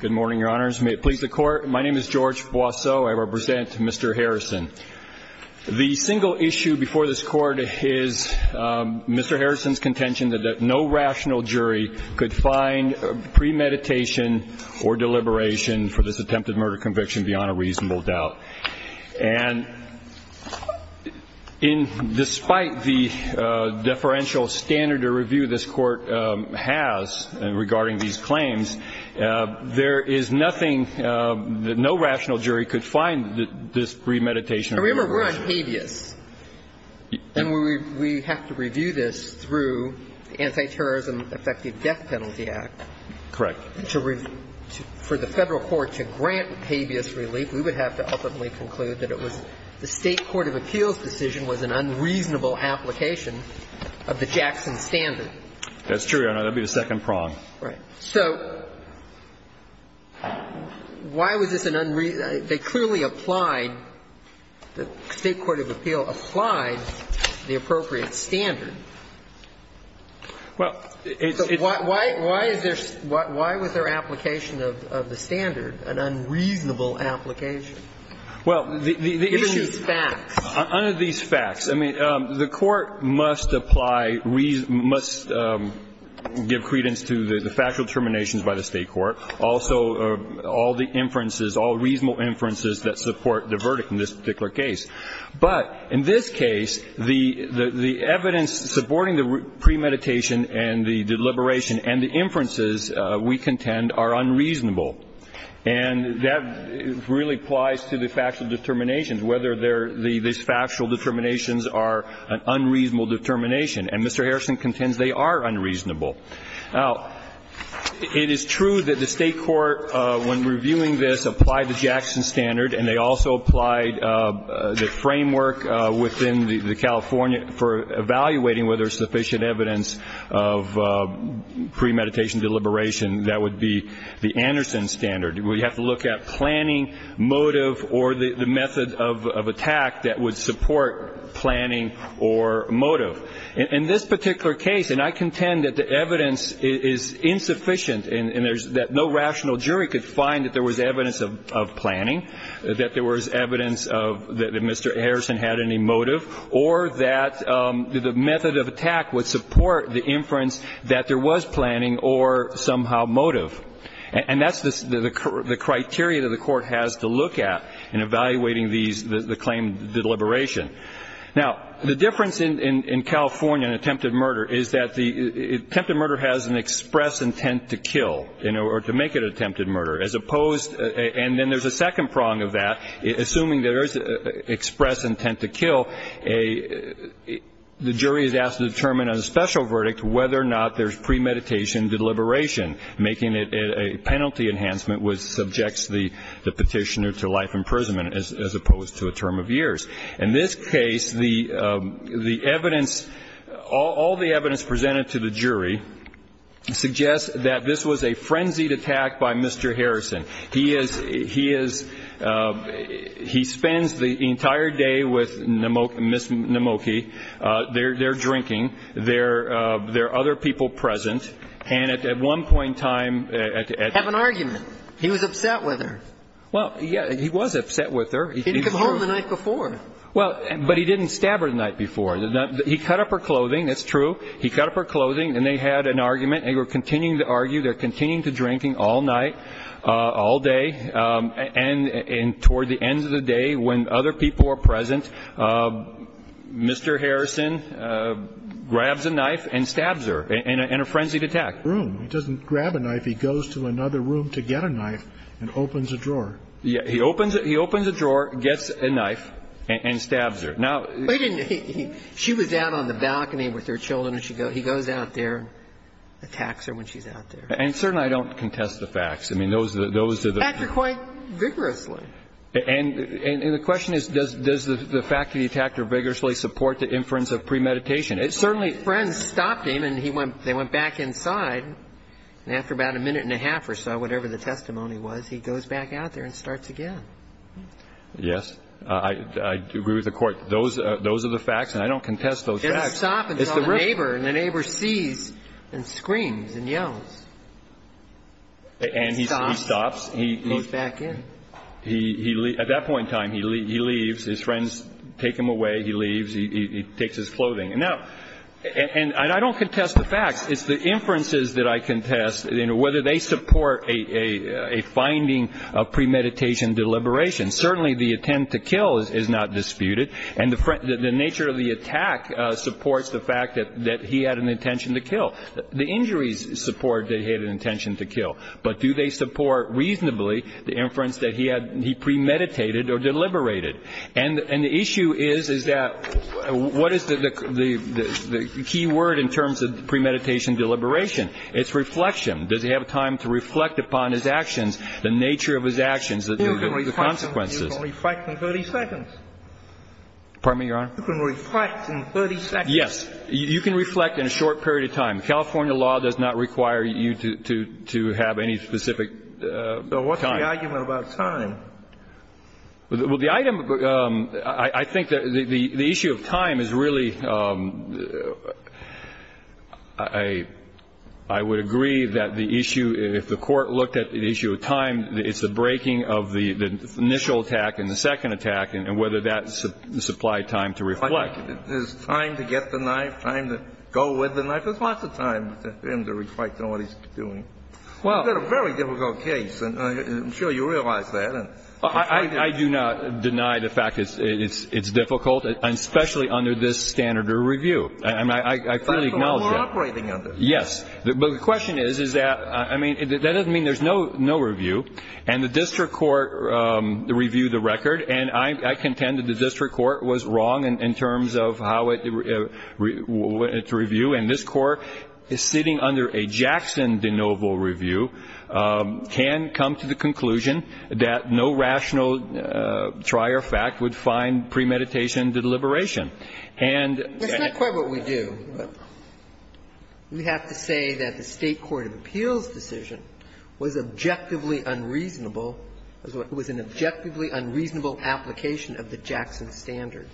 Good morning, Your Honors. May it please the Court. My name is George Boisseau. I represent Mr. Harrison. The single issue before this Court is Mr. Harrison's contention that no rational jury could find premeditation or deliberation for this attempted murder conviction beyond a reasonable doubt. And despite the deferential standard of review this Court has regarding these claims, there is nothing that no rational jury could find this premeditation or deliberation. Remember, we're on habeas. And we have to review this through the Anti-Terrorism Effective Death Penalty Act. Correct. If we were to, for the Federal court to grant habeas relief, we would have to ultimately conclude that it was the State court of appeals decision was an unreasonable application of the Jackson standard. That's true, Your Honor. That would be the second prong. Right. So why was this an unreasonable? They clearly applied, the State court of appeal applied the appropriate standard. Why was their application of the standard an unreasonable application? Under these facts. I mean, the Court must apply, must give credence to the factual determinations by the State court, also all the inferences, all reasonable inferences that support the verdict in this particular case. But in this case, the evidence supporting the premeditation and the deliberation and the inferences we contend are unreasonable. And that really applies to the factual determinations, whether these factual determinations are an unreasonable determination. And Mr. Harrison contends they are unreasonable. Now, it is true that the State court, when reviewing this, applied the Jackson standard and they also applied the framework within the California for evaluating whether sufficient evidence of premeditation deliberation, that would be the Anderson standard. We have to look at planning, motive, or the method of attack that would support planning or motive. In this particular case, and I contend that the evidence is insufficient and there's no rational jury could find that there was evidence of planning, that there was evidence of that Mr. Harrison had any motive, or that the method of attack would support the inference that there was planning or somehow motive. And that's the criteria that the Court has to look at in evaluating these, the claim deliberation. Now, the difference in California in attempted murder is that attempted murder has an express intent to kill in order to make it attempted murder. And then there's a second prong of that. Assuming there is express intent to kill, the jury is asked to determine on a special verdict whether or not there's premeditation deliberation, making it a penalty enhancement which subjects the petitioner to life imprisonment as opposed to a term of years. In this case, the evidence, all the evidence presented to the jury suggests that this was a frenzied attack by Mr. Harrison. He is, he is, he spends the entire day with Ms. Namoki. They're drinking. There are other people present. And at one point in time, at that time. Have an argument. He was upset with her. Well, yes, he was upset with her. He didn't come home the night before. Well, but he didn't stab her the night before. He cut up her clothing. That's true. He cut up her clothing. And they had an argument. They were continuing to argue. They're continuing to drinking all night, all day. And toward the end of the day, when other people are present, Mr. Harrison grabs a knife and stabs her in a frenzied attack. He doesn't grab a knife. He goes to another room to get a knife and opens a drawer. He opens a drawer, gets a knife, and stabs her. Now. She was out on the balcony with her children, and he goes out there and attacks her when she's out there. And certainly I don't contest the facts. I mean, those are the. Act quite vigorously. And the question is, does the fact that he attacked her vigorously support the inference of premeditation? It certainly. Friends stopped him, and they went back inside. And after about a minute and a half or so, whatever the testimony was, he goes back out there and starts again. Yes. I agree with the Court. Those are the facts, and I don't contest those facts. Just stop until the neighbor sees and screams and yells. And he stops. He goes back in. At that point in time, he leaves. His friends take him away. He leaves. He takes his clothing. And I don't contest the facts. It's the inferences that I contest, whether they support a finding of premeditation deliberation. Certainly the attempt to kill is not disputed. And the nature of the attack supports the fact that he had an intention to kill. The injuries support that he had an intention to kill. But do they support reasonably the inference that he premeditated or deliberated? And the issue is, is that what is the key word in terms of premeditation deliberation? It's reflection. Does he have time to reflect upon his actions, the nature of his actions, the consequences? You can reflect in 30 seconds. Pardon me, Your Honor? You can reflect in 30 seconds. Yes. You can reflect in a short period of time. California law does not require you to have any specific time. So what's the argument about time? Well, the item, I think the issue of time is really, I would agree that the issue if the court looked at the issue of time, it's the breaking of the initial attack and the second attack and whether that supplied time to reflect. But is time to get the knife, time to go with the knife? There's lots of time for him to reflect on what he's doing. Well. Well, you've got a very difficult case, and I'm sure you realize that. I do not deny the fact it's difficult, especially under this standard of review. I fully acknowledge that. That's the one we're operating under. Yes. But the question is, is that, I mean, that doesn't mean there's no review. And the district court reviewed the record, and I contend that the district court was wrong in terms of how it went to review. And this Court is sitting under a Jackson de novo review, can come to the conclusion that no rational trier fact would find premeditation to deliberation. And that's not quite what we do. We have to say that the State court of appeals decision was objectively unreasonable, was an objectively unreasonable application of the Jackson standard.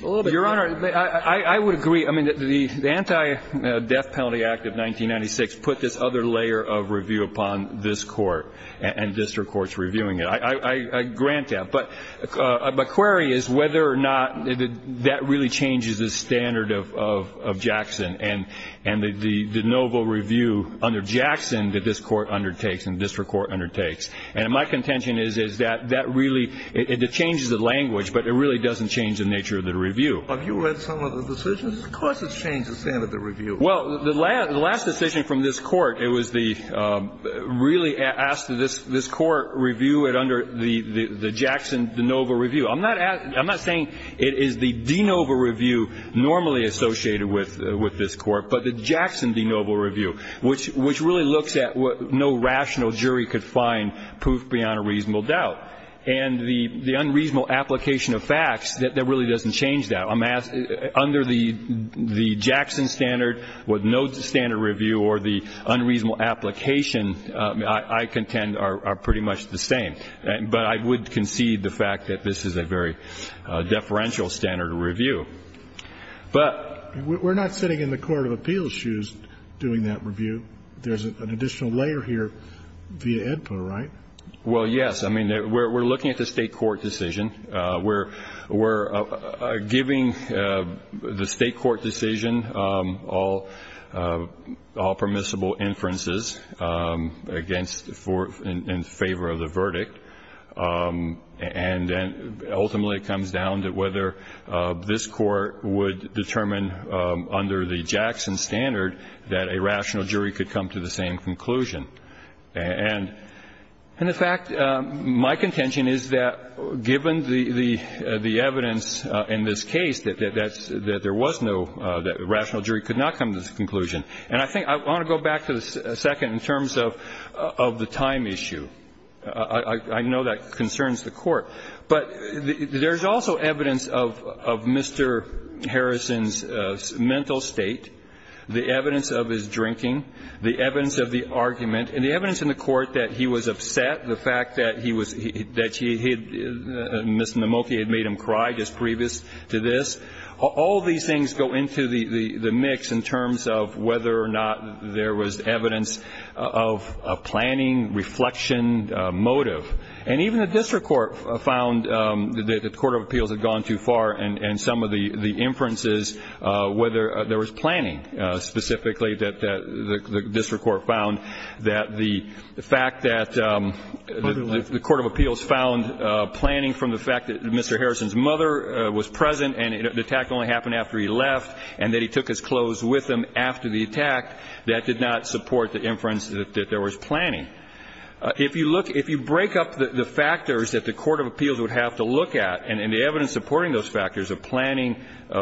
Your Honor, I would agree. I mean, the Anti-Death Penalty Act of 1996 put this other layer of review upon this court and district courts reviewing it. I grant that. But my query is whether or not that really changes the standard of Jackson and the de novo review under Jackson that this court undertakes and district court undertakes. And my contention is, is that that really, it changes the language, but it really doesn't change the nature of the review. Have you read some of the decisions? Of course it's changed the standard of review. Well, the last decision from this court, it was the, really asked this court review it under the Jackson de novo review. I'm not saying it is the de novo review normally associated with this court, but the reasonable jury could find proof beyond a reasonable doubt. And the unreasonable application of facts, that really doesn't change that. Under the Jackson standard with no standard review or the unreasonable application, I contend are pretty much the same. But I would concede the fact that this is a very deferential standard of review. But we're not sitting in the court of appeals shoes doing that review. There's an additional layer here via AEDPA, right? Well, yes. I mean, we're looking at the state court decision. We're giving the state court decision all permissible inferences against, in favor of the verdict. And ultimately it comes down to whether this court would determine under the Jackson standard that a rational jury could come to the same conclusion. And the fact, my contention is that given the evidence in this case, that there was no, that a rational jury could not come to this conclusion. And I think I want to go back a second in terms of the time issue. I know that concerns the Court. But there's also evidence of Mr. Harrison's mental state. The evidence of his drinking. The evidence of the argument. And the evidence in the court that he was upset, the fact that he was, that he had, Ms. Nemolke had made him cry just previous to this. All these things go into the mix in terms of whether or not there was evidence of planning, reflection, motive. And even the district court found that the court of appeals had gone too far and some of the inferences, whether there was planning specifically, that the district court found that the fact that the court of appeals found planning from the fact that Mr. Harrison's mother was present and the attack only happened after he left and that he took his clothes with him after the attack, that did not support the inference that there was planning. If you look, if you break up the factors that the court of appeals would have to look at and the evidence supporting those factors of planning,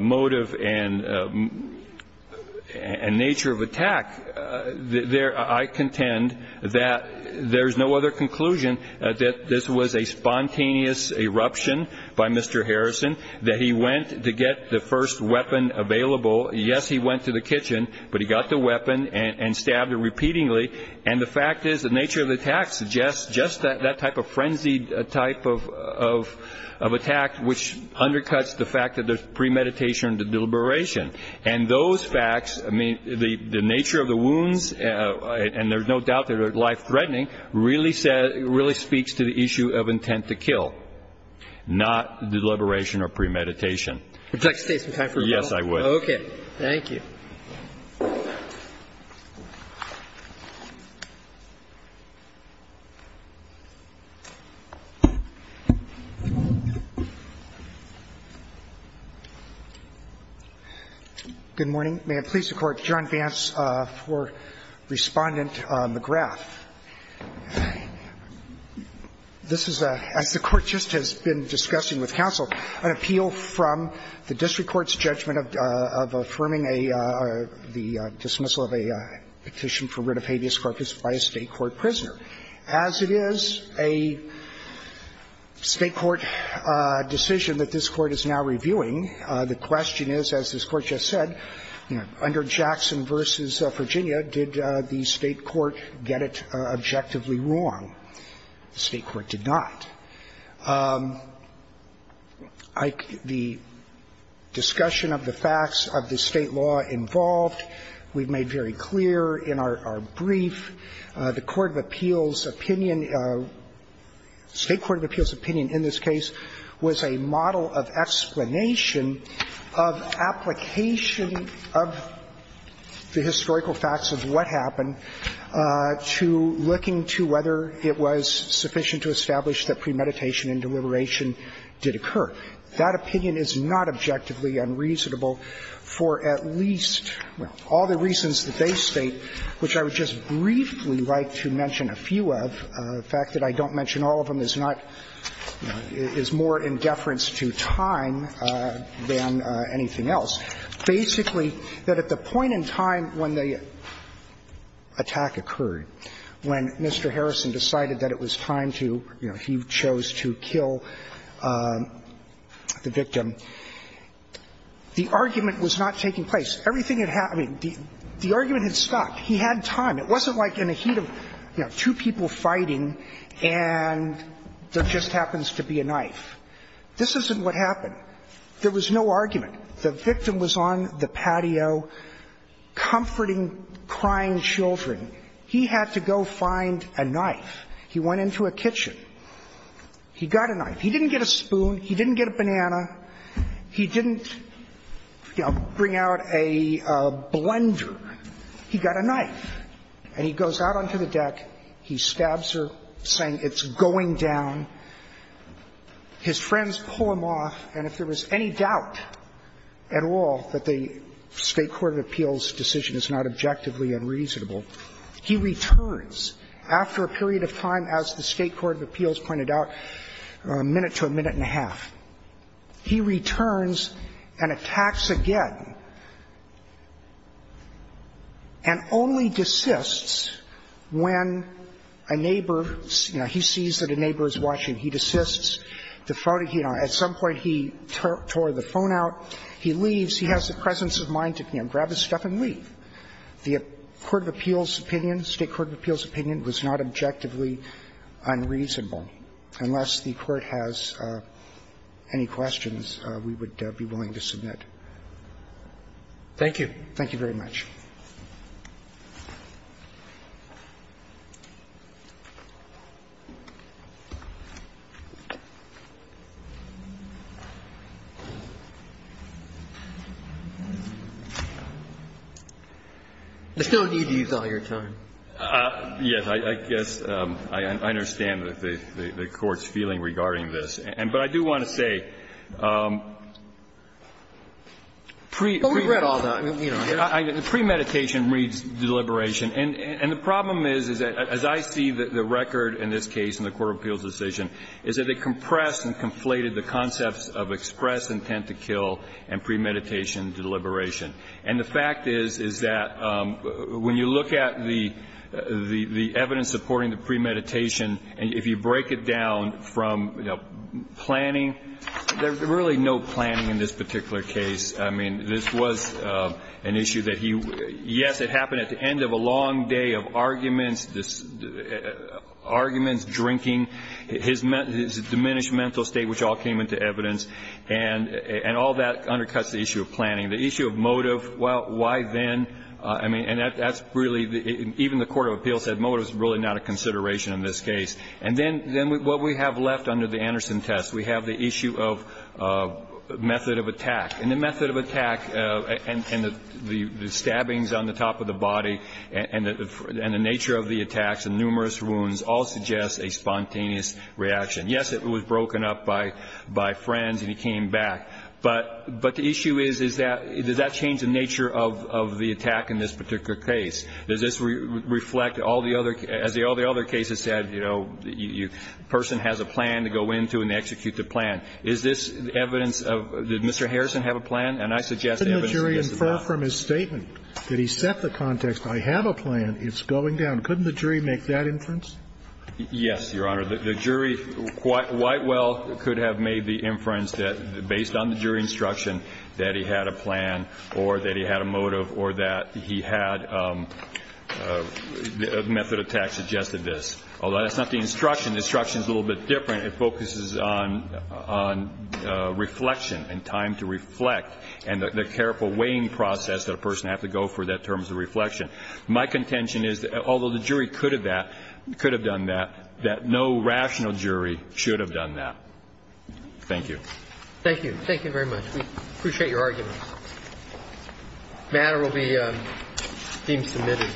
motive, and nature of attack, I contend that there's no other conclusion that this was a spontaneous eruption by Mr. Harrison, that he went to get the first weapon available. Yes, he went to the kitchen, but he got the weapon and stabbed it repeatedly. And the fact is the nature of the attack suggests just that type of frenzied type of attack, which undercuts the fact that there's premeditation or deliberation. And those facts, I mean, the nature of the wounds, and there's no doubt that they're life-threatening, really speaks to the issue of intent to kill, not deliberation or premeditation. Would you like to take some time for rebuttal? Yes, I would. Thank you. Good morning. May it please the Court. John Vance for Respondent McGrath. This is a, as the Court just has been discussing with counsel, an appeal from the district court's judgment of affirming the dismissal of a petition for writ of habeas corpus by a state court prisoner. As it is a state court decision that this Court is now reviewing, the question is, as this Court just said, under Jackson v. Virginia, did the state court get it objectively wrong? The state court did not. The discussion of the facts of the state law involved, we've made very clear in our brief, the court of appeals' opinion, state court of appeals' opinion in this case was a model of explanation of application of the historical facts of what happened to looking to whether it was sufficient to establish that premeditation and deliberation did occur. That opinion is not objectively unreasonable for at least all the reasons that they state, which I would just briefly like to mention a few of. The fact that I don't mention all of them is not, is more in deference to time than anything else. Basically, that at the point in time when the attack occurred, when Mr. Harrison decided that it was time to, you know, he chose to kill the victim, the argument was not taking place. Everything had happened. The argument had stopped. He had time. It wasn't like in a heat of, you know, two people fighting and there just happens to be a knife. This isn't what happened. There was no argument. The victim was on the patio comforting crying children. He had to go find a knife. He went into a kitchen. He got a knife. He didn't get a spoon. He didn't get a banana. He didn't, you know, bring out a blender. He got a knife. And he goes out onto the deck. He stabs her, saying, it's going down. His friends pull him off, and if there was any doubt at all that the State court of appeals decision is not objectively unreasonable, he returns after a period of time, as the State court of appeals pointed out, a minute to a minute and a half. He returns and attacks again and only desists when a neighbor, you know, he sees that a neighbor is watching. He desists. The phone, you know, at some point he tore the phone out. He leaves. He has the presence of mind to, you know, grab his stuff and leave. The court of appeals' opinion, State court of appeals' opinion was not objectively unreasonable. Unless the Court has any questions, we would be willing to submit. Thank you. Thank you very much. I still need to use all your time. Yes. I guess I understand the Court's feeling regarding this. But I do want to say pre-fraud. But we've read all that. Premeditation reads deliberation. And the problem is, is that as I see the record in this case in the court of appeals' decision, is that they compressed and conflated the concepts of express intent to kill and premeditation deliberation. And the fact is, is that when you look at the evidence supporting the premeditation, if you break it down from planning, there's really no planning in this particular case. I mean, this was an issue that he, yes, it happened at the end of a long day of arguments, arguments, drinking, his diminished mental state, which all came into evidence. And all that undercuts the issue of planning. The issue of motive, why then? I mean, and that's really, even the court of appeals said motive is really not a consideration in this case. And then what we have left under the Anderson test, we have the issue of method of attack. And the method of attack and the stabbings on the top of the body and the nature of the attacks and numerous wounds all suggest a spontaneous reaction. Yes, it was broken up by friends and he came back. But the issue is, is that, does that change the nature of the attack in this particular case? Does this reflect all the other, as all the other cases said, you know, the person has a plan to go into and they execute the plan. Is this evidence of, did Mr. Harrison have a plan? And I suggest evidence that he does not. Didn't the jury infer from his statement that he set the context, I have a plan, it's going down. Couldn't the jury make that inference? Yes, Your Honor. The jury quite well could have made the inference that, based on the jury instruction, that he had a plan or that he had a motive or that he had a method of attack suggested this. Although that's not the instruction. The instruction is a little bit different. It focuses on reflection and time to reflect and the careful weighing process that a person has to go through in terms of reflection. My contention is, although the jury could have done that, that no rational jury should have done that. Thank you. Thank you. Thank you very much. We appreciate your argument. The matter will be deemed submitted. Thank you.